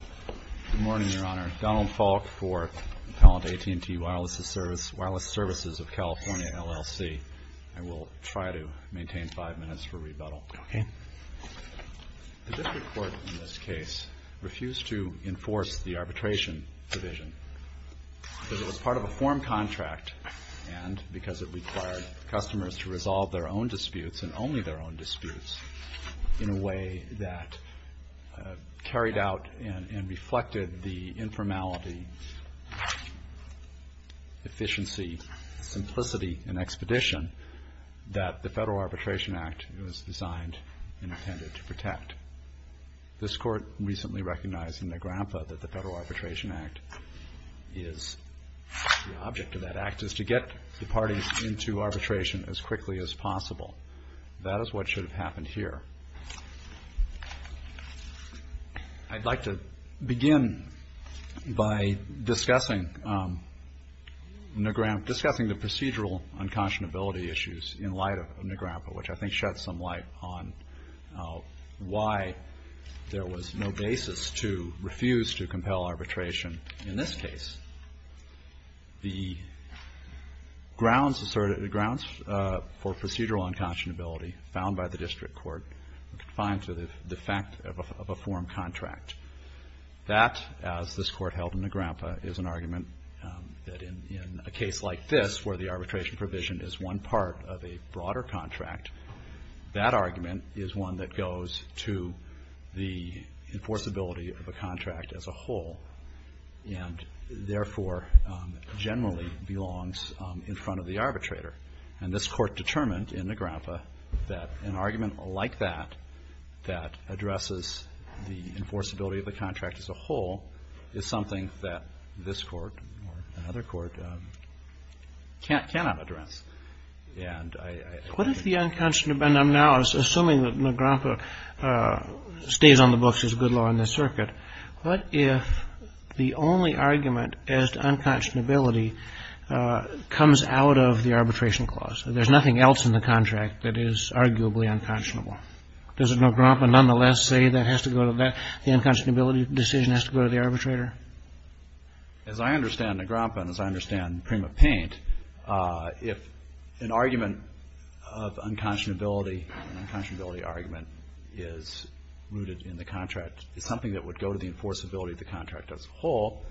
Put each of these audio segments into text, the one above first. Good morning, Your Honor. Donald Falk for Appellant AT&T Wireless Services of California, LLC. I will try to maintain five minutes for rebuttal. Okay. The district court in this case refused to enforce the arbitration provision because it was part of a form contract and because it required customers to resolve their own disputes and only their own disputes in a way that carried out and reflected the informality, efficiency, simplicity, and expedition that the Federal Arbitration Act was designed and intended to protect. This Court recently recognized in the GRAMPA that the Federal Arbitration Act is the object of that act is to get the parties into arbitration as quickly as possible. That is what should have happened here. I'd like to begin by discussing the procedural unconscionability issues in light of the GRAMPA, which I think sheds some light on why there was no basis to refuse to compel arbitration in this case. The grounds for procedural unconscionability found by the district court are confined to the fact of a form contract. That, as this Court held in the GRAMPA, is an argument that in a case like this, where the arbitration provision is one part of a broader contract, that argument is one that goes to the enforceability of a contract as a whole. And, therefore, generally belongs in front of the arbitrator. And this Court determined in the GRAMPA that an argument like that, that addresses the enforceability of the contract as a whole, is something that this Court or another Court cannot address. And I... What if the unconscionable, and I'm now assuming that the GRAMPA stays on the books as good law in the circuit. What if the only argument as to unconscionability comes out of the arbitration clause? There's nothing else in the contract that is arguably unconscionable. Does the GRAMPA nonetheless say that the unconscionability decision has to go to the arbitrator? As I understand the GRAMPA and as I understand Prima Paint, if an argument of unconscionability, an unconscionability argument, is rooted in the contract, is something that would go to the enforceability of the contract as a whole,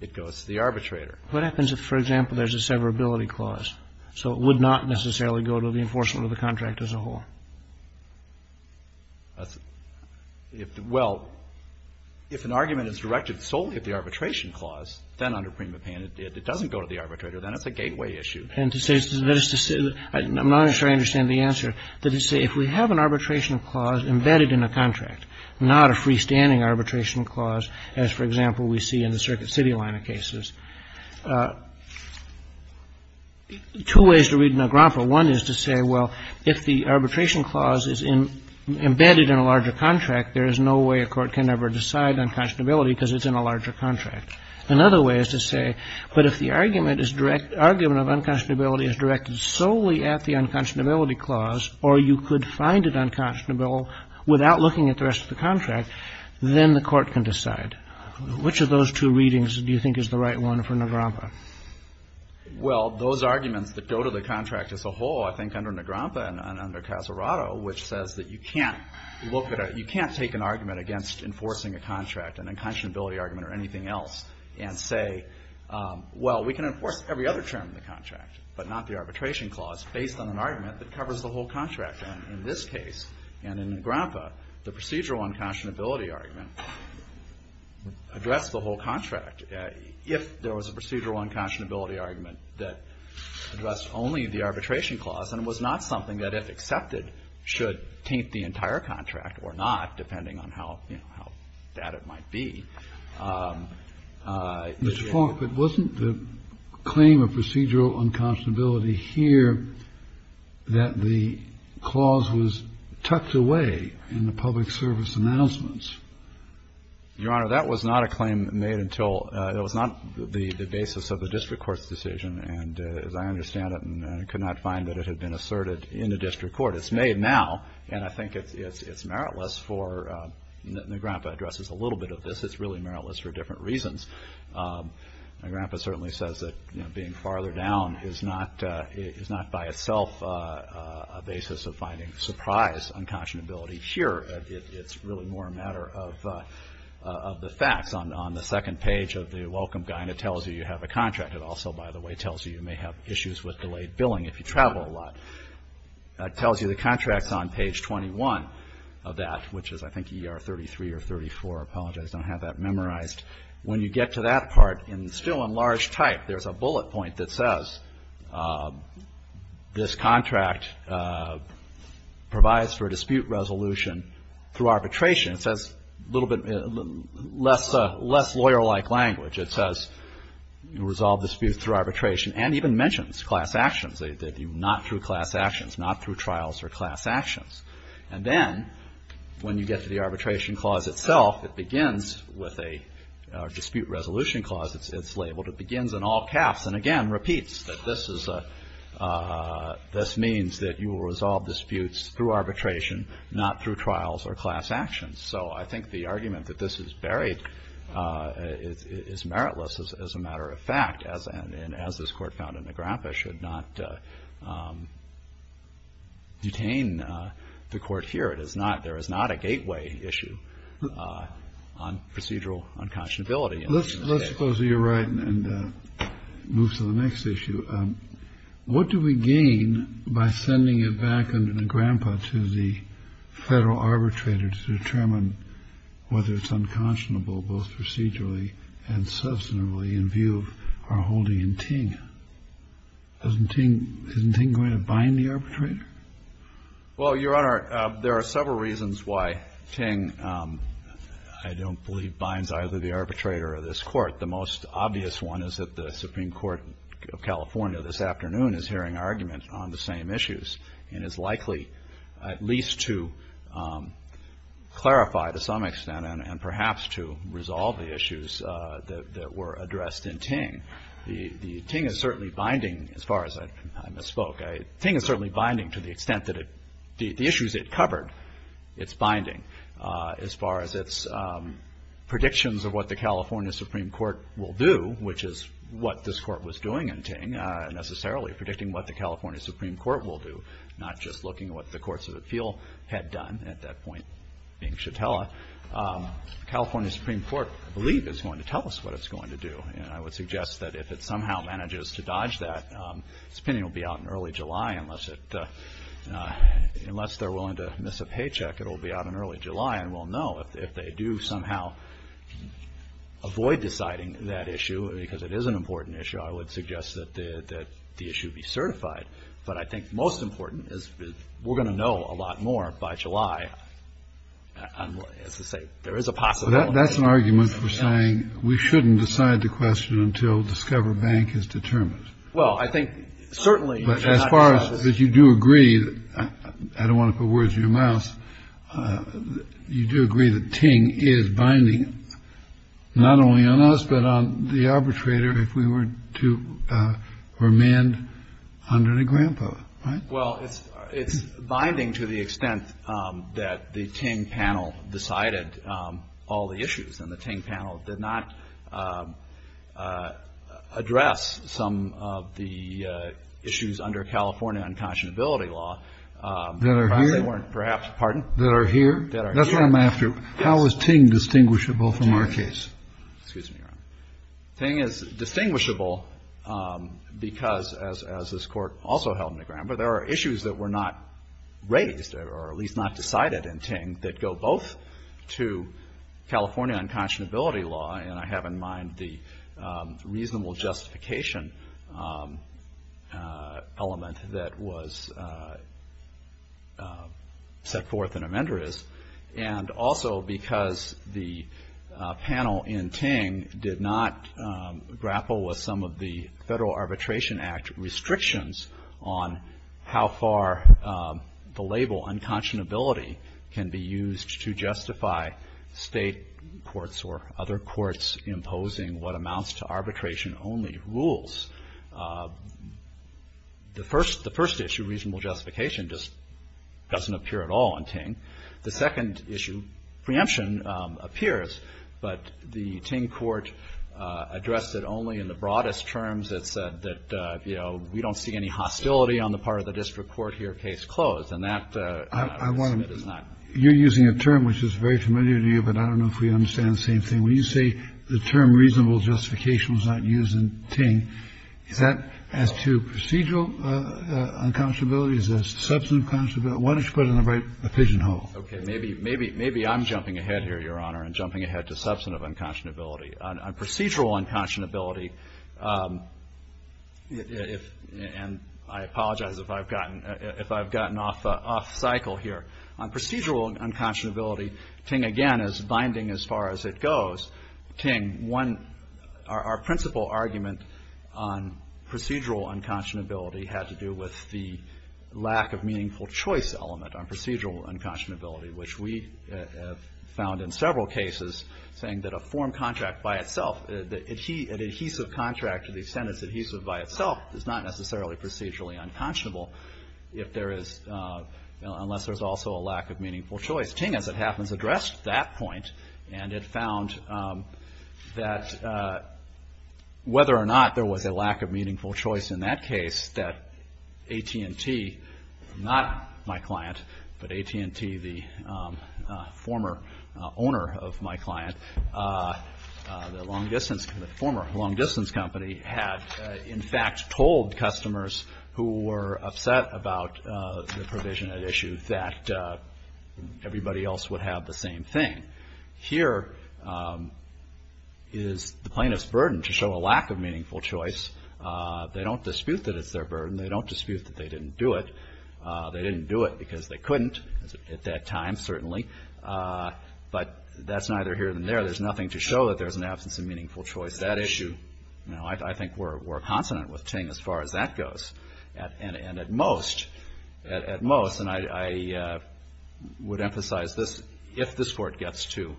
it goes to the arbitrator. What happens if, for example, there's a severability clause? So it would not necessarily go to the enforcement of the contract as a whole? Well, if an argument is directed solely at the arbitration clause, then under Prima Paint, if it doesn't go to the arbitrator, then it's a gateway issue. And to say, that is to say, I'm not sure I understand the answer. That is to say, if we have an arbitration clause embedded in a contract, not a freestanding arbitration clause, as, for example, we see in the Circuit City line of cases. Two ways to read a GRAMPA. One is to say, well, if the arbitration clause is embedded in a larger contract, there is no way a court can ever decide unconscionability because it's in a larger contract. Another way is to say, but if the argument is direct, argument of unconscionability is directed solely at the unconscionability clause, or you could find it unconscionable without looking at the rest of the contract, then the court can decide. Which of those two readings do you think is the right one for NAGRAMPA? Well, those arguments that go to the contract as a whole, I think under NAGRAMPA and under Casarato, which says that you can't look at a you can't take an argument against enforcing a contract, an unconscionability argument or anything else, and say, well, we can enforce every other term in the contract, but not the arbitration clause, based on an argument that covers the whole contract. And in this case, and in NAGRAMPA, the procedural unconscionability argument addressed the whole contract, if there was a procedural unconscionability argument that addressed only the arbitration clause and was not something that, if accepted, should taint the entire contract or not, depending on how, you know, how bad it might be. Mr. Fonk, but wasn't the claim of procedural unconscionability here that the clause was tucked away in the public service announcements? Your Honor, that was not a claim made until it was not the basis of the district court's decision, and as I understand it, and could not find that it had been asserted in the district court. It's made now, and I think it's meritless for NAGRAMPA addresses a little bit of this. It's really meritless for different reasons. NAGRAMPA certainly says that, you know, being farther down is not by itself a basis of finding surprise unconscionability. Here, it's really more a matter of the facts. On the second page of the welcome guide, it tells you you have a contract. It also, by the way, tells you you may have issues with delayed billing if you travel a lot. It tells you the contract's on page 21 of that, which is, I think, ER 33 or 34. I apologize. I don't have that memorized. When you get to that part, in still in large type, there's a bullet point that says this contract provides for a dispute resolution through arbitration. It says a little bit less lawyer-like language. It says resolve dispute through arbitration and even mentions class actions. They do not through class actions, not through trials or class actions. And then when you get to the arbitration clause itself, it begins with a dispute resolution clause. It's labeled. It begins in all caps and, again, repeats that this means that you will resolve disputes through arbitration, not through trials or class actions. So I think the argument that this is buried is meritless as a matter of fact, and as this Court found in Negrempa, should not detain the Court here. There is not a gateway issue on procedural unconscionability. Let's suppose that you're right and move to the next issue. What do we gain by sending it back under Negrempa to the federal arbitrator to determine whether it's unconscionable both procedurally and substantively in view of our holding in Ting? Isn't Ting going to bind the arbitrator? Well, Your Honor, there are several reasons why Ting, I don't believe, binds either the arbitrator or this Court. The most obvious one is that the Supreme Court of California this afternoon is hearing argument on the same issues and is likely at least to clarify to some The Ting is certainly binding, as far as I misspoke. Ting is certainly binding to the extent that the issues it covered, it's binding. As far as its predictions of what the California Supreme Court will do, which is what this Court was doing in Ting, necessarily predicting what the California Supreme Court will do, not just looking at what the courts of appeal had done at that point, being Shatella. The California Supreme Court, I believe, is going to tell us what it's going to do. I would suggest that if it somehow manages to dodge that, its opinion will be out in early July unless they're willing to miss a paycheck, it will be out in early July and we'll know. If they do somehow avoid deciding that issue because it is an important issue, I would suggest that the issue be certified. But I think most important is we're going to know a lot more by July As I say, there is a possibility. That's an argument for saying we shouldn't decide the question until Discover Bank is determined. Well, I think certainly. But as far as you do agree, I don't want to put words in your mouth. You do agree that Ting is binding, not only on us, but on the arbitrator if we were to remand under the grandpa. Well, it's binding to the extent that the Ting panel decided all the issues and the Ting panel did not address some of the issues under California unconscionability law. That are here? Perhaps, pardon? That are here? That are here. That's what I'm after. How is Ting distinguishable from our case? Ting is distinguishable because, as this court also held in the grandpa, there are issues that were not raised or at least not decided in Ting that go both to California unconscionability law, and I have in mind the reasonable justification element that was set forth in amenders, and also because the panel in Ting did not grapple with some of the Federal Arbitration Act restrictions on how far the label unconscionability can be used to justify state courts or other courts imposing what amounts to arbitration only rules. The first issue, reasonable justification, just doesn't appear at all in Ting. The second issue, preemption appears, but the Ting court addressed it only in the broadest terms. It said that, you know, we don't see any hostility on the part of the district court here case closed, and that is not. You're using a term which is very familiar to you, but I don't know if we understand the same thing. When you say the term reasonable justification was not used in Ting, is that as to procedural unconscionability? Is that substantive unconscionability? Why don't you put it in the right pigeonhole? Okay. Maybe I'm jumping ahead here, Your Honor, and jumping ahead to substantive unconscionability. On procedural unconscionability, and I apologize if I've gotten off cycle here. On procedural unconscionability, Ting, again, is binding as far as it goes. Ting, one, our principal argument on procedural unconscionability had to do with the lack of meaningful choice element on procedural unconscionability, which we have found in several cases saying that a form contract by itself, an adhesive contract to the extent it's adhesive by itself, is not necessarily procedurally unconscionable if there is, unless there's also a lack of meaningful choice. Ting, as it happens, addressed that point, and it found that whether or not there was a lack of meaningful choice in that case, that AT&T, not my client, but AT&T, the former owner of my client, the former long distance company, had, in fact, told customers who were upset about the provision at issue that everybody else would have the same thing. Here is the plaintiff's burden to show a lack of meaningful choice. They don't dispute that it's their burden. They don't dispute that they didn't do it. They didn't do it because they couldn't at that time, certainly. But that's neither here nor there. There's nothing to show that there's an absence of meaningful choice. Now, I think we're consonant with Ting as far as that goes. And at most, and I would emphasize this, if this Court gets to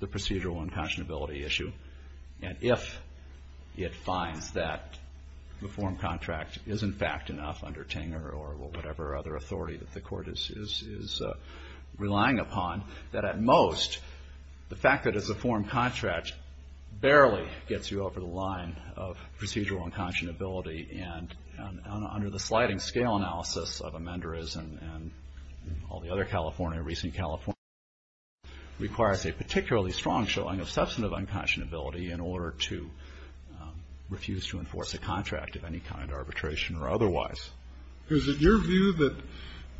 the procedural unconscionability issue, and if it finds that the form contract is, in fact, enough under Ting or whatever other authority that the Court is relying upon, that at most, the fact that it's a form contract barely gets you over the line of procedural unconscionability. And under the sliding scale analysis of amenders and all the other California, recent California, requires a particularly strong showing of substantive unconscionability in order to refuse to enforce a contract of any kind, arbitration or otherwise. Is it your view that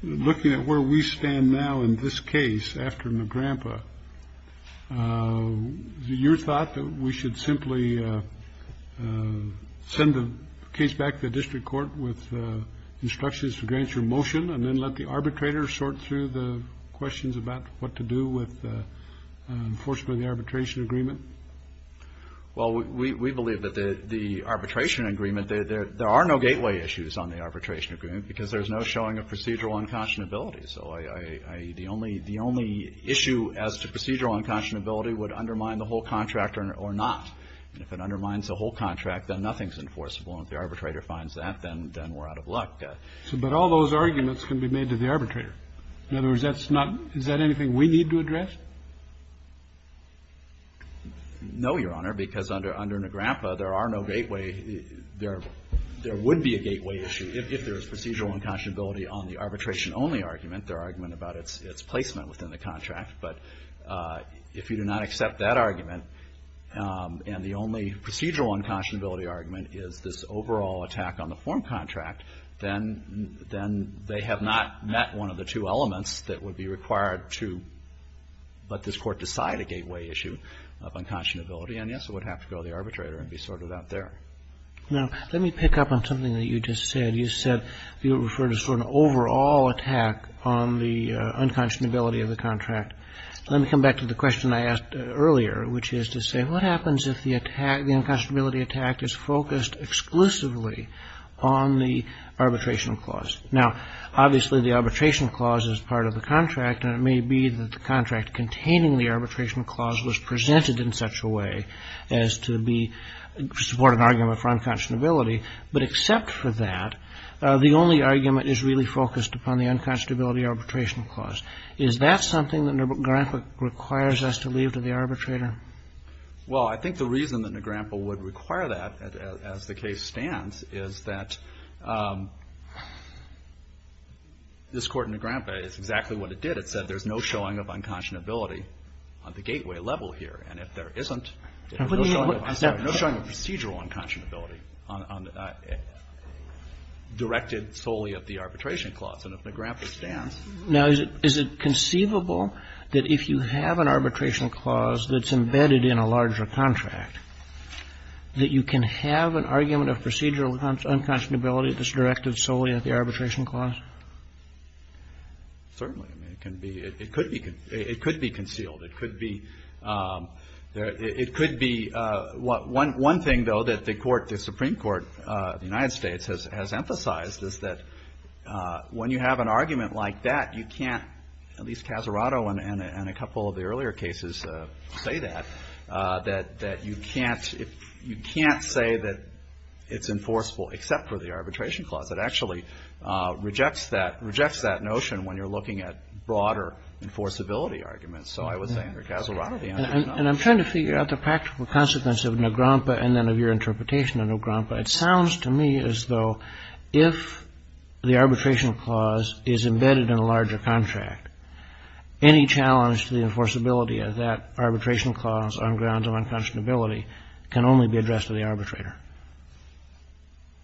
looking at where we stand now in this case after Nagrampa, is it your thought that we should simply send the case back to the district court with instructions to grant your motion and then let the arbitrator sort through the questions about what to do with, unfortunately, the arbitration agreement? Well, we believe that the arbitration agreement, there are no gateway issues on the arbitration agreement because there's no showing of procedural unconscionability. So the only issue as to procedural unconscionability would undermine the whole contract or not. And if it undermines the whole contract, then nothing's enforceable. And if the arbitrator finds that, then we're out of luck. But all those arguments can be made to the arbitrator. In other words, that's not, is that anything we need to address? No, Your Honor, because under Nagrampa, there are no gateway, there would be a gateway issue if there's procedural unconscionability on the arbitration-only argument, the argument about its placement within the contract. But if you do not accept that argument and the only procedural unconscionability argument is this overall attack on the form contract, then they have not met one of the two elements that would be required to let this Court decide a gateway issue of unconscionability. And, yes, it would have to go to the arbitrator and be sorted out there. Now, let me pick up on something that you just said. You said you referred to sort of an overall attack on the unconscionability of the contract. Let me come back to the question I asked earlier, which is to say what happens if the attack, the unconscionability attack is focused exclusively on the arbitration clause? Now, obviously, the arbitration clause is part of the contract, and it may be that the contract containing the arbitration clause was presented in such a way as to support an argument for unconscionability. But except for that, the only argument is really focused upon the unconscionability arbitration clause. Is that something that Negrempa requires us to leave to the arbitrator? Well, I think the reason that Negrempa would require that, as the case stands, is that this Court in Negrempa is exactly what it did. It said there's no showing of unconscionability on the gateway level here. And if there isn't, there's no showing of procedural unconscionability directed solely at the arbitration clause. And if Negrempa stands... Now, is it conceivable that if you have an arbitration clause that's embedded in a larger contract, that you can have an argument of procedural unconscionability that's directed solely at the arbitration clause? Certainly. I mean, it could be concealed. It could be... One thing, though, that the Supreme Court of the United States has emphasized is that when you have an argument like that, you can't, at least Casarato and a couple of the earlier cases say that, that you can't say that it's enforceable except for the arbitration clause. It actually rejects that notion when you're looking at broader enforceability arguments. So I would say under Casarato the answer is no. And I'm trying to figure out the practical consequence of Negrempa and then of your interpretation of Negrempa. It sounds to me as though if the arbitration clause is embedded in a larger contract, any challenge to the enforceability of that arbitration clause on grounds of unconscionability can only be addressed to the arbitrator.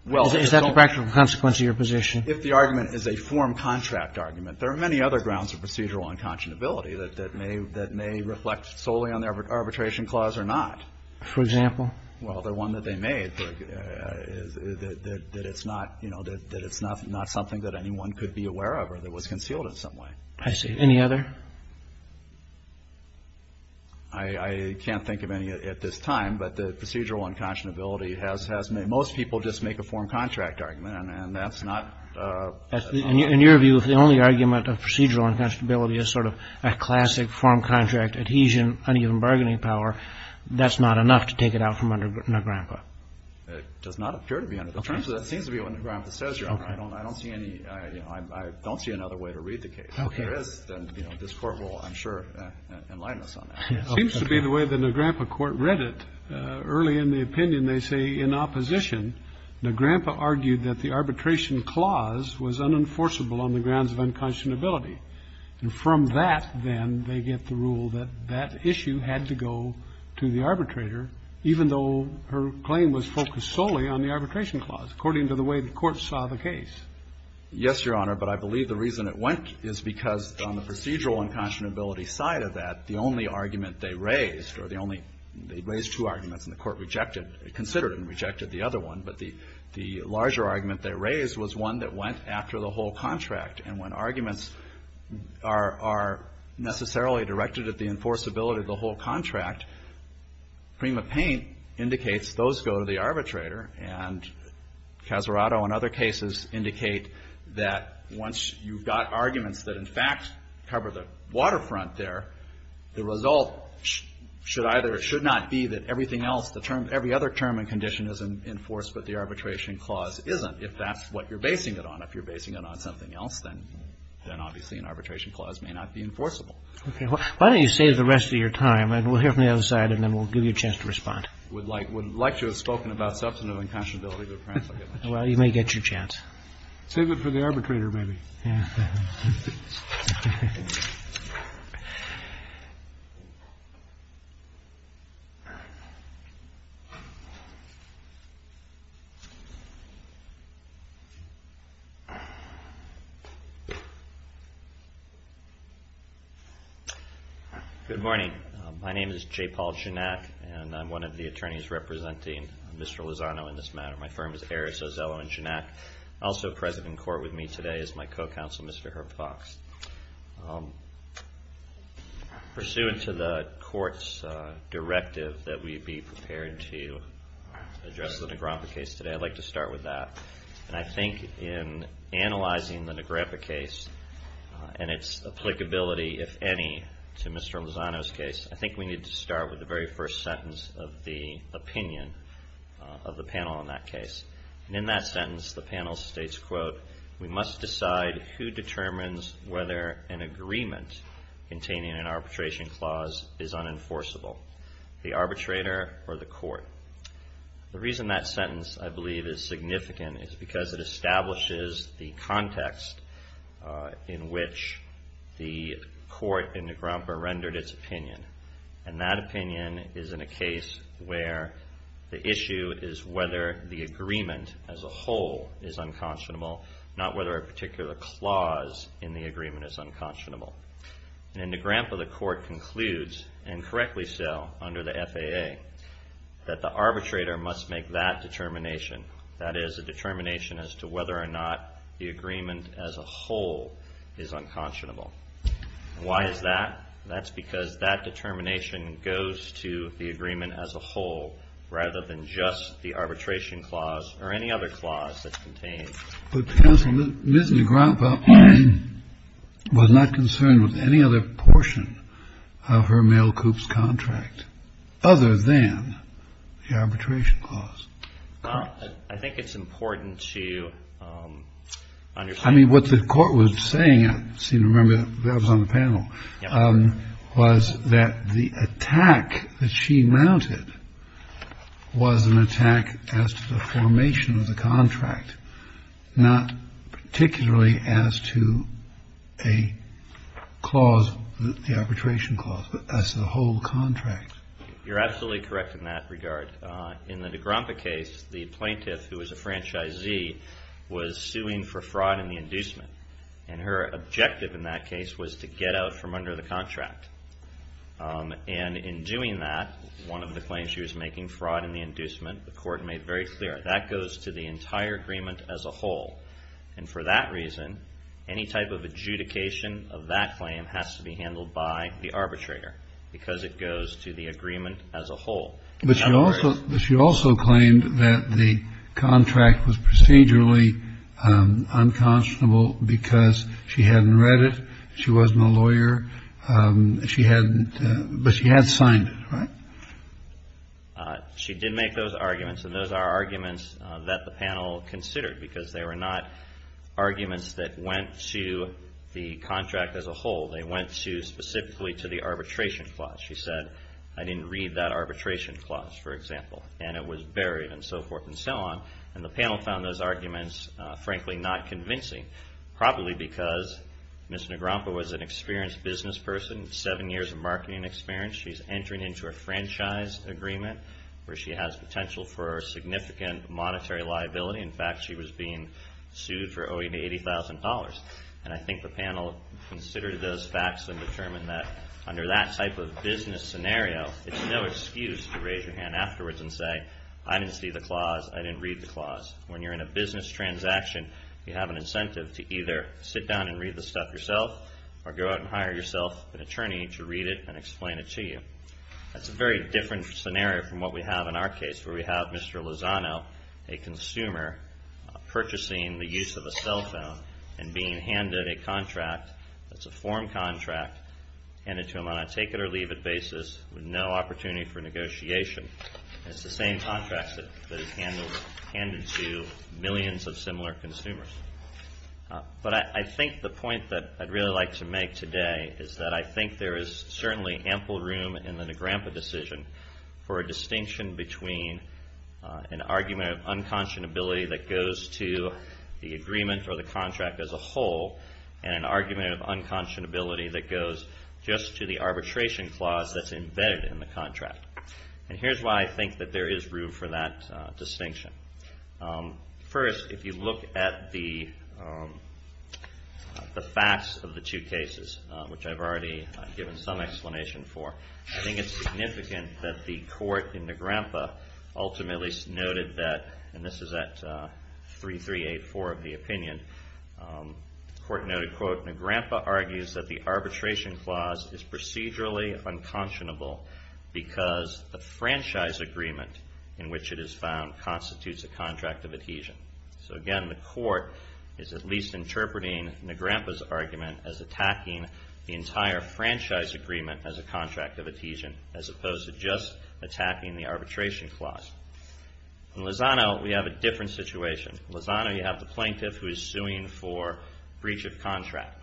Is that the practical consequence of your position? If the argument is a form contract argument, there are many other grounds of procedural unconscionability that may reflect solely on the arbitration clause or not. For example? Well, the one that they made, that it's not, you know, that it's not something that anyone could be aware of or that was concealed in some way. I see. Any other? I can't think of any at this time, but the procedural unconscionability has made most people just make a form contract argument, and that's not... In your view, if the only argument of procedural unconscionability is sort of a classic form contract adhesion, uneven bargaining power, that's not enough to take it out from Negrempa? It does not appear to be. In terms of that, it seems to be what Negrempa says, Your Honor. I don't see another way to read the case. If there is, then this Court will, I'm sure, enlighten us on that. It seems to be the way the Negrempa Court read it. Early in the opinion, they say in opposition, Negrempa argued that the arbitration clause was unenforceable on the grounds of unconscionability. And from that, then, they get the rule that that issue had to go to the arbitrator, even though her claim was focused solely on the arbitration clause, according to the way the Court saw the case. Yes, Your Honor, but I believe the reason it went is because on the procedural unconscionability side of that, the only argument they raised, or the only, they raised two arguments and the Court rejected, considered and rejected the other one, but the larger argument they raised was one that went after the whole contract. And when arguments are necessarily directed at the enforceability of the whole contract, Prima Paint indicates those go to the arbitrator, and Casarato and other cases indicate that once you've got arguments that, in fact, cover the waterfront there, the result should either or should not be that everything else, every other term and condition is enforced, but the arbitration clause isn't. If that's what you're basing it on, if you're basing it on something else, then obviously an arbitration clause may not be enforceable. Okay. Why don't you save the rest of your time, and we'll hear from the other side, and then we'll give you a chance to respond. I would like to have spoken about substantive unconscionability. Well, you may get your chance. Save it for the arbitrator, maybe. Okay. Good morning. My name is J. Paul Janak, and I'm one of the attorneys representing Mr. Lozano in this matter. My firm is Aris Ozello and Janak. Also present in court with me today is my co-counsel, Mr. Herb Fox. Pursuant to the court's directive that we be prepared to address the Negrepa case today, I'd like to start with that. I think in analyzing the Negrepa case and its applicability, if any, to Mr. Lozano's case, I think we need to start with the very first sentence of the opinion of the panel on that case. In that sentence, the panel states, quote, we must decide who determines whether an agreement containing an arbitration clause is unenforceable, the arbitrator or the court. The reason that sentence, I believe, is significant is because it establishes the context in which the court in Negrepa rendered its opinion, and that opinion is in a case where the issue is whether the agreement as a whole is unconscionable, not whether a particular clause in the agreement is unconscionable. In Negrepa, the court concludes, and correctly so under the FAA, that the arbitrator must make that determination, that is, a determination as to whether or not the agreement as a whole is unconscionable. Why is that? That's because that determination goes to the agreement as a whole, rather than just the arbitration clause or any other clause that's contained. But, counsel, Ms. Negrepa was not concerned with any other portion of her mail coups contract, other than the arbitration clause. I think it's important to understand. I mean, what the court was saying, I seem to remember that was on the panel, was that the attack that she mounted was an attack as to the formation of the contract, not particularly as to a clause, the arbitration clause, but as to the whole contract. You're absolutely correct in that regard. In the Negrepa case, the plaintiff, who was a franchisee, was suing for fraud in the inducement, and her objective in that case was to get out from under the contract. And in doing that, one of the claims she was making, fraud in the inducement, the court made very clear, that goes to the entire agreement as a whole. And for that reason, any type of adjudication of that claim has to be handled by the arbitrator, But she also claimed that the contract was procedurally unconscionable because she hadn't read it. She wasn't a lawyer. She hadn't, but she had signed it, right? She did make those arguments, and those are arguments that the panel considered, because they were not arguments that went to the contract as a whole. They went specifically to the arbitration clause. She said, I didn't read that arbitration clause, for example, and it was buried, and so forth and so on. And the panel found those arguments, frankly, not convincing, probably because Ms. Negrepa was an experienced business person, seven years of marketing experience. She's entering into a franchise agreement where she has potential for significant monetary liability. In fact, she was being sued for owing $80,000. And I think the panel considered those facts and determined that under that type of business scenario, it's no excuse to raise your hand afterwards and say, I didn't see the clause, I didn't read the clause. When you're in a business transaction, you have an incentive to either sit down and read the stuff yourself or go out and hire yourself an attorney to read it and explain it to you. That's a very different scenario from what we have in our case, where we have Mr. Lozano, a consumer, purchasing the use of a cell phone and being handed a contract that's a form contract handed to him on a take-it-or-leave-it basis with no opportunity for negotiation. It's the same contract that is handed to millions of similar consumers. But I think the point that I'd really like to make today is that I think there is certainly ample room in the Negrampa decision for a distinction between an argument of unconscionability that goes to the agreement or the contract as a whole and an argument of unconscionability that goes just to the arbitration clause that's embedded in the contract. And here's why I think that there is room for that distinction. First, if you look at the facts of the two cases, which I've already given some explanation for, I think it's significant that the court in Negrampa ultimately noted that, and this is at 3384 of the opinion, the court noted, quote, Negrampa argues that the arbitration clause is procedurally unconscionable because the franchise agreement in which it is found constitutes a contract of adhesion. So again, the court is at least interpreting Negrampa's argument as attacking the entire franchise agreement as a contract of adhesion as opposed to just attacking the arbitration clause. In Lozano, we have a different situation. In Lozano, you have the plaintiff who is suing for breach of contract.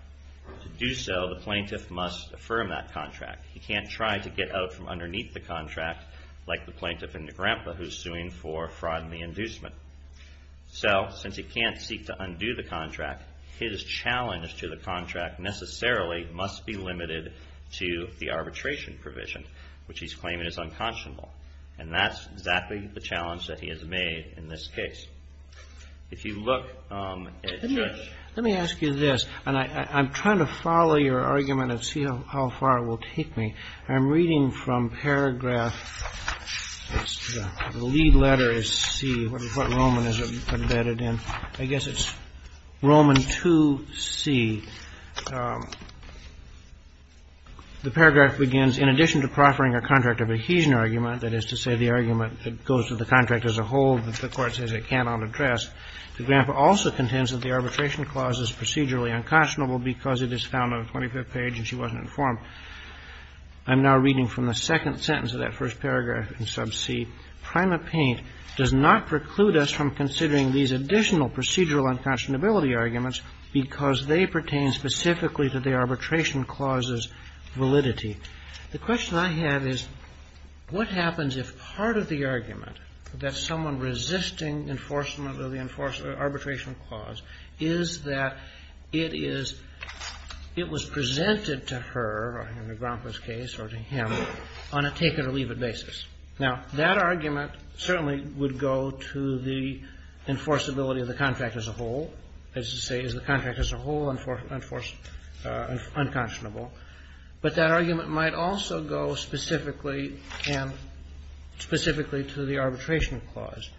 To do so, the plaintiff must affirm that contract. He can't try to get out from underneath the contract, like the plaintiff in Negrampa who's suing for fraud and the inducement. So since he can't seek to undo the contract, his challenge to the contract necessarily must be limited to the arbitration provision, which he's claiming is unconscionable. And that's exactly the challenge that he has made in this case. If you look at Judge ---- I'm reading from paragraph, the lead letter is C, what Roman is embedded in. I guess it's Roman 2C. The paragraph begins, In addition to proffering a contract of adhesion argument, that is to say the argument that goes with the contract as a whole that the court says it cannot address, Negrampa also contends that the arbitration clause is procedurally unconscionable because it is found on the 25th page and she wasn't informed. I'm now reading from the second sentence of that first paragraph in sub C. Prima Paint does not preclude us from considering these additional procedural unconscionability arguments because they pertain specifically to the arbitration clause's validity. The question I have is what happens if part of the argument that someone resisting enforcement of the arbitration clause is that it is ---- to her or Negrampa's case or to him on a take-it-or-leave-it basis. Now, that argument certainly would go to the enforceability of the contract as a whole, as to say is the contract as a whole enforced unconscionable, but that argument might also go specifically and specifically to the arbitration clause.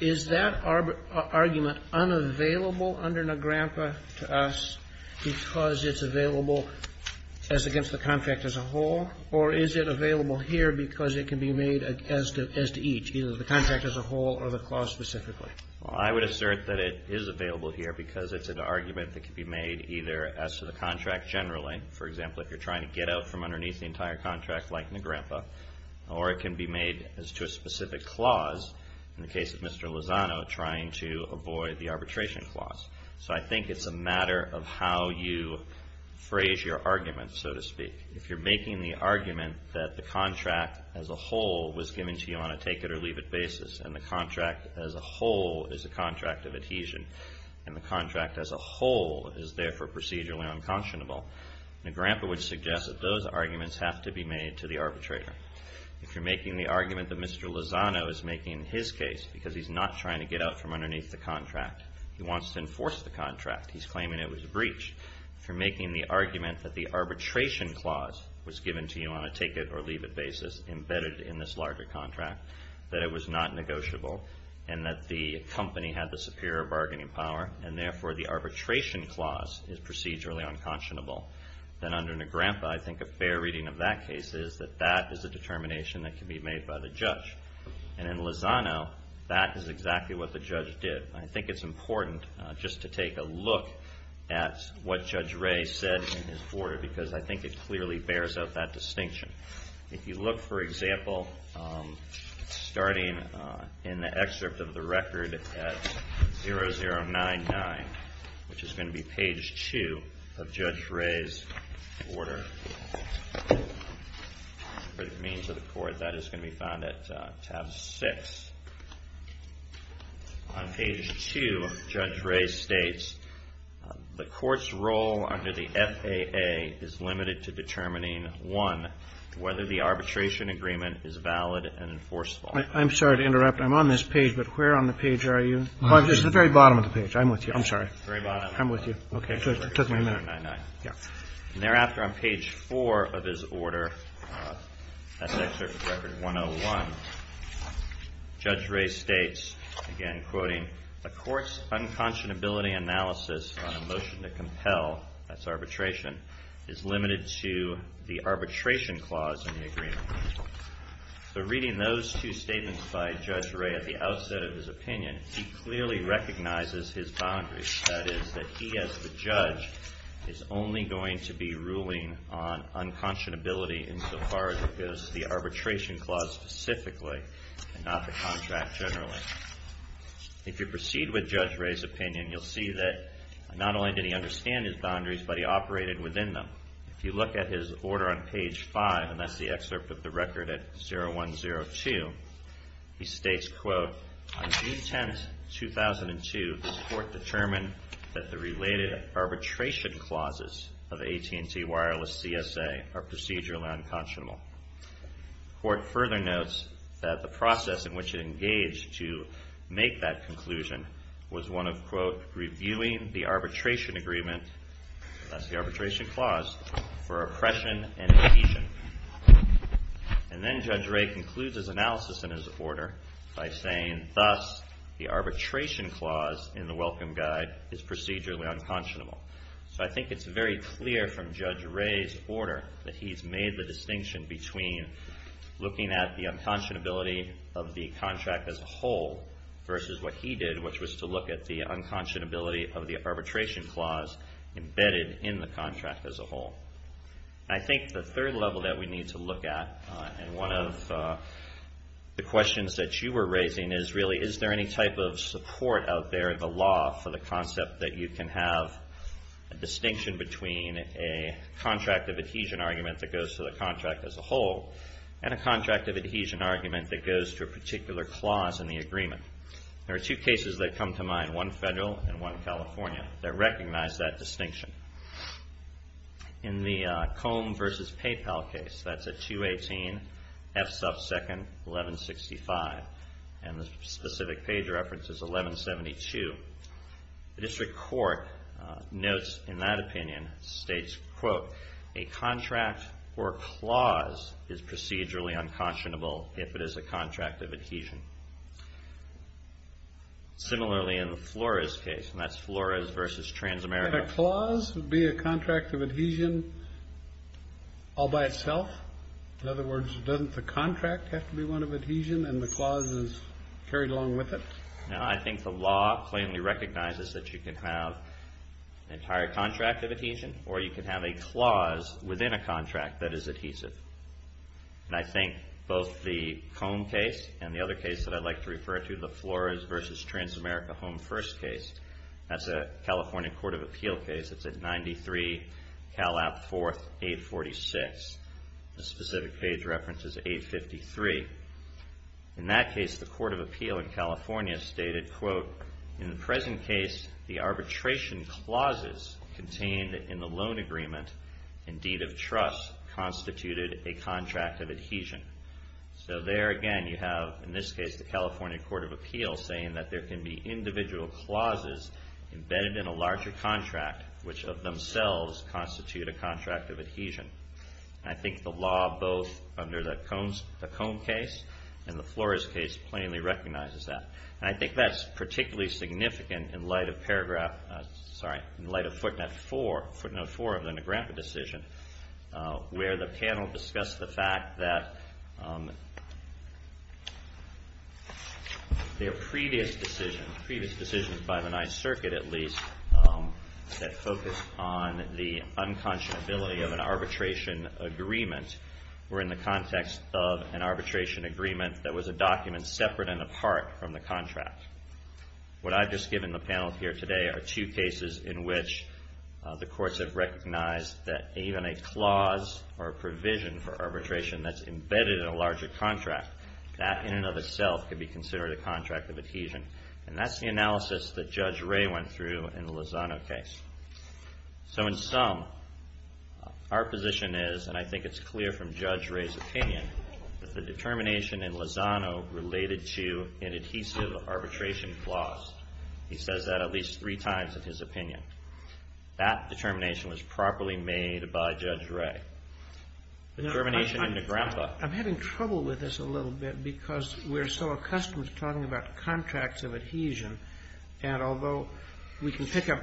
Is that argument unavailable under Negrampa to us because it's available to the contract as a whole or is it available here because it can be made as to each, either the contract as a whole or the clause specifically? Well, I would assert that it is available here because it's an argument that can be made either as to the contract generally, for example, if you're trying to get out from underneath the entire contract like Negrampa, or it can be made as to a specific clause, in the case of Mr. Lozano, trying to avoid the arbitration clause. So I think it's a matter of how you phrase your argument, so to speak. If you're making the argument that the contract as a whole was given to you on a take-it-or-leave-it basis and the contract as a whole is a contract of adhesion and the contract as a whole is therefore procedurally unconscionable, Negrampa would suggest that those arguments have to be made to the arbitrator. If you're making the argument that Mr. Lozano is making in his case because he's not trying to get out from underneath the contract, he wants to enforce the contract, he's claiming it was breached. If you're making the argument that the arbitration clause was given to you on a take-it-or-leave-it basis embedded in this larger contract, that it was not negotiable and that the company had the superior bargaining power, and therefore the arbitration clause is procedurally unconscionable, then under Negrampa I think a fair reading of that case is that that is a determination that can be made by the judge. And in Lozano, that is exactly what the judge did. I think it's important just to take a look at what Judge Ray said in his order because I think it clearly bears out that distinction. If you look, for example, starting in the excerpt of the record at 0099, which is going to be page 2 of Judge Ray's order, for the means of the court, that is going to be found at tab 6. On page 2, Judge Ray states, the court's role under the FAA is limited to determining, one, whether the arbitration agreement is valid and enforceable. I'm sorry to interrupt. I'm on this page, but where on the page are you? At the very bottom of the page. I'm with you. Very bottom. I'm with you. It took me a minute. Thereafter, on page 4 of his order, that's excerpt from record 101, Judge Ray states, again quoting, the court's unconscionability analysis on a motion to compel, that's arbitration, is limited to the arbitration clause in the agreement. So reading those two statements by Judge Ray at the outset of his opinion, he clearly recognizes his boundaries. That is, that he, as the judge, is only going to be ruling on unconscionability insofar as it goes to the arbitration clause specifically, and not the contract generally. If you proceed with Judge Ray's opinion, you'll see that not only did he understand his boundaries, but he operated within them. If you look at his order on page 5, and that's the excerpt of the record at 0102, he states, quote, On June 10, 2002, this court determined that the related arbitration clauses of AT&T Wireless CSA are procedurally unconscionable. The court further notes that the process in which it engaged to make that conclusion was one of, quote, reviewing the arbitration agreement, that's the arbitration clause, for oppression and adhesion. And then Judge Ray concludes his analysis in his order by saying, thus, the arbitration clause in the welcome guide is procedurally unconscionable. So I think it's very clear from Judge Ray's order that he's made the distinction between looking at the unconscionability of the contract as a whole versus what he did, which was to look at the unconscionability of the arbitration clause embedded in the contract as a whole. I think the third level that we need to look at, and one of the questions that you were raising, is really is there any type of support out there in the law for the concept that you can have a distinction between a contract of adhesion argument that goes to the contract as a whole and a contract of adhesion argument that goes to a particular clause in the agreement. There are two cases that come to mind, one federal and one California, that recognize that distinction. In the Combe versus PayPal case, that's at 218 F sub 2nd 1165, and the specific page reference is 1172. The district court notes in that opinion, states, quote, a contract or clause is procedurally unconscionable if it is a contract of adhesion. Similarly in the Flores case, and that's Flores versus Transamerica. Would a clause be a contract of adhesion all by itself? In other words, doesn't the contract have to be one of adhesion and the clause is carried along with it? I think the law plainly recognizes that you can have an entire contract of adhesion or you can have a clause within a contract that is adhesive. And I think both the Combe case and the other case that I'd like to refer to, the Flores versus Transamerica Home First case, that's a California Court of Appeal case. It's at 93 Cal App 4th 846. The specific page reference is 853. In that case, the Court of Appeal in California stated, quote, in the present case, the arbitration clauses contained in the loan agreement and deed of trust constituted a contract of adhesion. So there again, you have, in this case, the California Court of Appeal saying that there can be individual clauses embedded in a larger contract which of themselves constitute a contract of adhesion. And I think the law both under the Combe case and the Flores case plainly recognizes that. And I think that's particularly significant in light of paragraph, sorry, in light of footnote 4 of the Negrappa decision where the panel discussed the fact that there are previous decisions, previous decisions by the Ninth Circuit at least, that focused on the unconscionability of an arbitration agreement or in the context of an arbitration agreement that was a document separate and apart from the contract. What I've just given the panel here today are two cases in which the courts have recognized that even a clause or a provision for arbitration that's embedded in a larger contract, that in and of itself could be considered a contract of adhesion. And that's the analysis that Judge Ray went through in the Lozano case. So in sum, our position is, and I think it's clear from Judge Ray's opinion, that the determination in Lozano related to an adhesive arbitration clause. He says that at least three times in his opinion. That determination was properly made by Judge Ray. Determination in Negrappa. I'm having trouble with this a little bit because we're so accustomed to talking about contracts of adhesion. And although we can pick up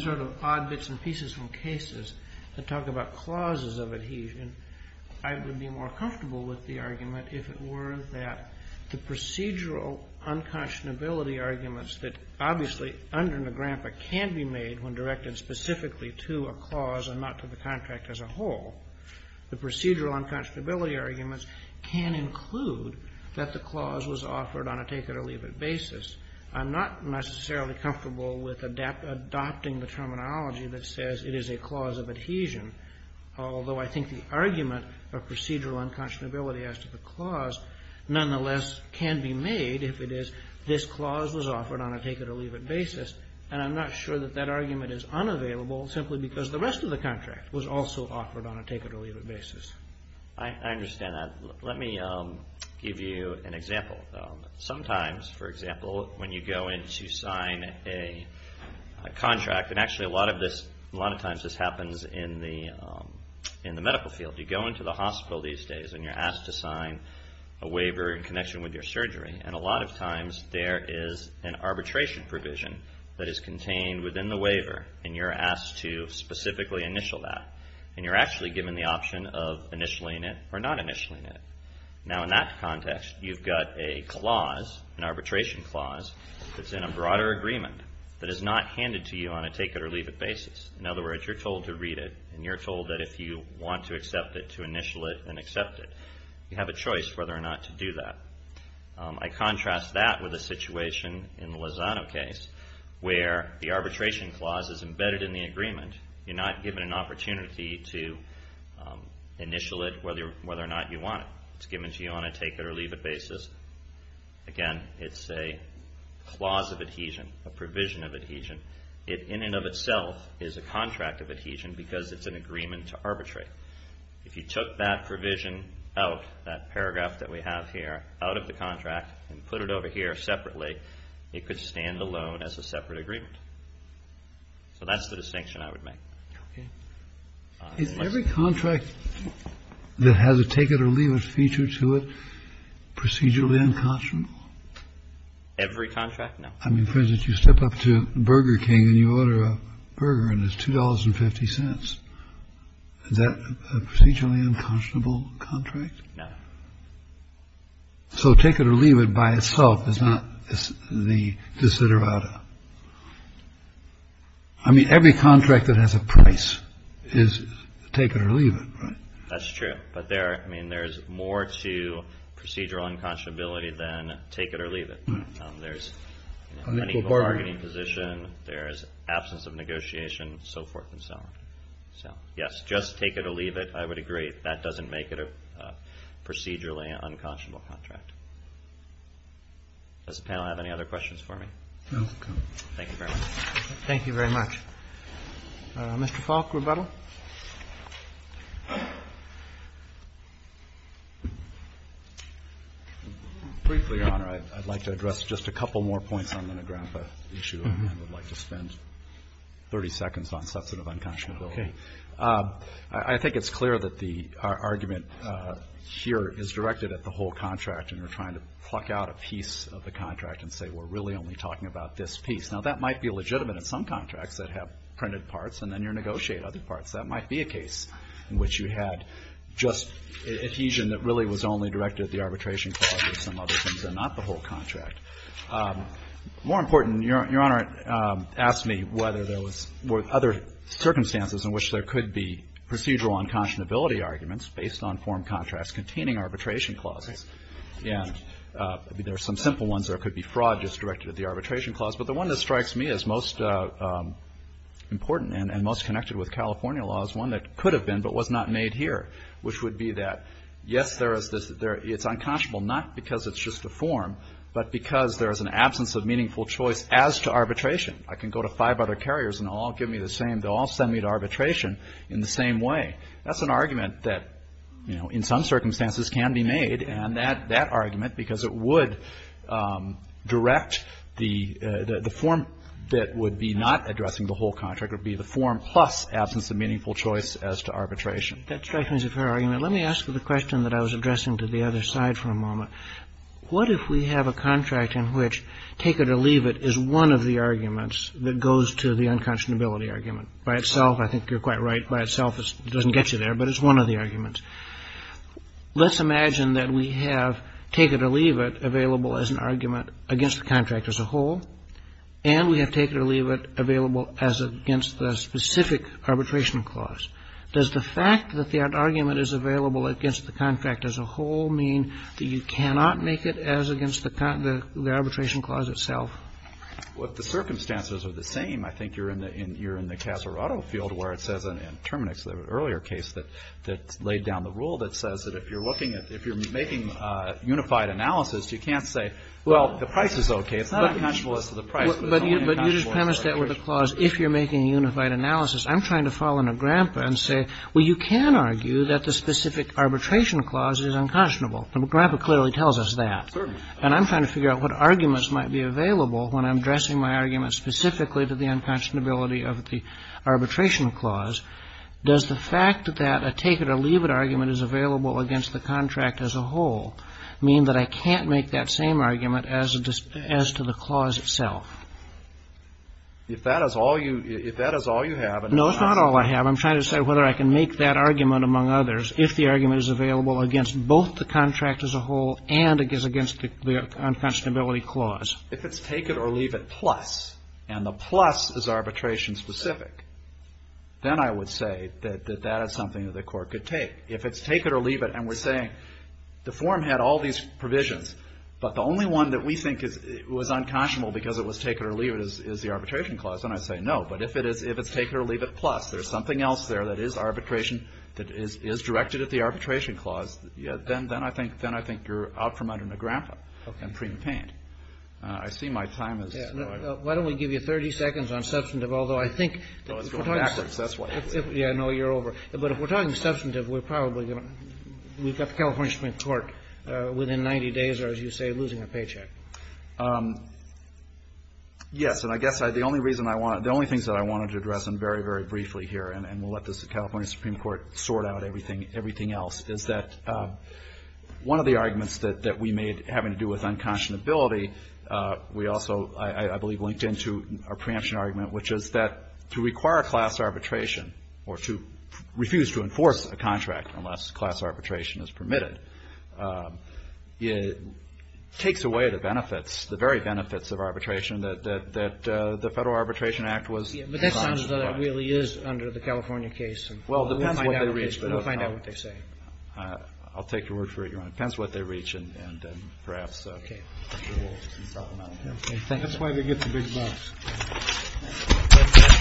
sort of odd bits and pieces from cases and talk about clauses of adhesion, I would be more comfortable with the argument if it were that the procedural unconscionability arguments that obviously under Negrappa can be made when directed specifically to a clause and not to the contract as a whole, the procedural unconscionability arguments can include that the clause was offered on a take-it-or-leave-it basis. I'm not necessarily comfortable with adopting the terminology that says it is a clause of adhesion, although I think the argument of procedural unconscionability as to the clause nonetheless can be made if it is this clause was offered on a take-it-or-leave-it basis. And I'm not sure that that argument is unavailable simply because the rest of the contract was also offered on a take-it-or-leave-it basis. I understand that. Let me give you an example. Sometimes, for example, when you go in to sign a contract, and actually a lot of times this happens in the medical field. You go into the hospital these days and you're asked to sign a waiver in connection with your surgery. And a lot of times there is an arbitration provision that is contained within the waiver and you're asked to specifically initial that. And you're actually given the option of initialing it or not initialing it. Now, in that context, you've got a clause, an arbitration clause, that's in a broader agreement that is not handed to you on a take-it-or-leave-it basis. In other words, you're told to read it and you're told that if you want to accept it, to initial it and accept it. You have a choice whether or not to do that. I contrast that with a situation in the Lozano case where the arbitration clause is embedded in the agreement. You're not given an opportunity to initial it whether or not you want it. It's given to you on a take-it-or-leave-it basis. Again, it's a clause of adhesion, a provision of adhesion. It, in and of itself, is a contract of adhesion because it's an agreement to arbitrate. If you took that provision out, that paragraph that we have here, out of the contract and put it over here separately, it could stand alone as a separate agreement. So that's the distinction I would make. Okay. Is every contract that has a take-it-or-leave-it feature to it procedurally unconscionable? Every contract? No. I mean, for instance, you step up to Burger King and you order a burger and it's $2.50. Is that a procedurally unconscionable contract? No. So take-it-or-leave-it by itself is not the desiderata. I mean, every contract that has a price is take-it-or-leave-it, right? That's true. But there's more to procedural unconscionability than take-it-or-leave-it. There's an unequal bargaining position. There's absence of negotiation, so forth and so on. So, yes, just take-it-or-leave-it, I would agree. That doesn't make it a procedurally unconscionable contract. Does the panel have any other questions for me? No. Okay. Thank you very much. Thank you very much. Mr. Falk, rebuttal. Briefly, Your Honor, I'd like to address just a couple more points on the Negrappa issue. I would like to spend 30 seconds on substantive unconscionability. Okay. I think it's clear that the argument here is directed at the whole contract, and you're trying to pluck out a piece of the contract and say we're really only talking about this piece. Now, that might be legitimate in some contracts that have printed parts, and then you negotiate other parts. That might be a case in which you had just adhesion that really was only directed at the arbitration clause and some other things and not the whole contract. More important, Your Honor asked me whether there was other circumstances in which there could be procedural unconscionability arguments based on form contracts containing arbitration clauses. There are some simple ones. There could be fraud just directed at the arbitration clause. But the one that strikes me as most important and most connected with California law is one that could have been but was not made here, which would be that, yes, it's unconscionable not because it's just a form but because there is an absence of meaningful choice as to arbitration. I can go to five other carriers and they'll all give me the same. They'll all send me to arbitration in the same way. That's an argument that, you know, in some circumstances can be made, and that argument, because it would direct the form that would be not addressing the whole contract would be the form plus absence of meaningful choice as to arbitration. Kagan. That strikes me as a fair argument. Let me ask you the question that I was addressing to the other side for a moment. What if we have a contract in which take it or leave it is one of the arguments that goes to the unconscionability argument? By itself, I think you're quite right. By itself, it doesn't get you there, but it's one of the arguments. Let's imagine that we have take it or leave it available as an argument against the contract as a whole, and we have take it or leave it available as against the specific arbitration clause. Does the fact that the argument is available against the contract as a whole mean that you cannot make it as against the arbitration clause itself? Well, the circumstances are the same. I think you're in the Casarotto field where it says in Terminix, the earlier case that laid down the rule that says that if you're looking at, if you're making unified analysis, you can't say, well, the price is okay. It's not unconscionable as to the price, but it's only unconscionable as to the arbitration. But you just premised that with the clause, if you're making a unified analysis. I'm trying to fall into Grandpa and say, well, you can argue that the specific arbitration clause is unconscionable. Grandpa clearly tells us that. And I'm trying to figure out what arguments might be available when I'm addressing my argument specifically to the unconscionability of the arbitration clause. Does the fact that a take it or leave it argument is available against the contract as a whole mean that I can't make that same argument as to the clause itself? If that is all you have. No, it's not all I have. I'm trying to say whether I can make that argument, among others, if the argument is available against both the contract as a whole and against the unconscionability clause. If it's take it or leave it plus, and the plus is arbitration specific, then I would say that that is something that the Court could take. If it's take it or leave it and we're saying the form had all these provisions, but the only one that we think was unconscionable because it was take it or leave it is the arbitration clause, then I'd say no. But if it's take it or leave it plus, there's something else there that is arbitration If you look at the arbitration clause, then I think you're out for muddering a grandpa. Okay. I see my time is running out. Why don't we give you 30 seconds on substantive, although I think that we're talking substantive. No, you're over. But if we're talking substantive, we're probably going to get the California Supreme Court within 90 days, or as you say, losing a paycheck. Yes. And I guess the only reason I want to, the only things that I wanted to address very, very briefly here, and we'll let the California Supreme Court sort out everything else, is that one of the arguments that we made having to do with unconscionability, we also, I believe, linked into our preemption argument, which is that to require class arbitration or to refuse to enforce a contract unless class arbitration is permitted, it takes away the benefits, the very benefits of arbitration that the Federal Arbitration Act was. But that sounds as though that really is under the California case. Well, we'll find out what they say. I'll take your word for it, Your Honor. It depends what they reach, and perhaps we will supplement it. That's why they get the big bucks.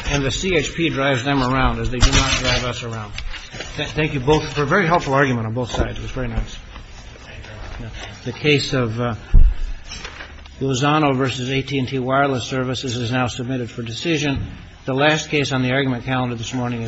And the CHP drives them around, as they do not drive us around. Thank you both for a very helpful argument on both sides. It was very nice. The case of Lozano v. AT&T Wireless Services is now submitted for decision. The last case on the argument calendar this morning is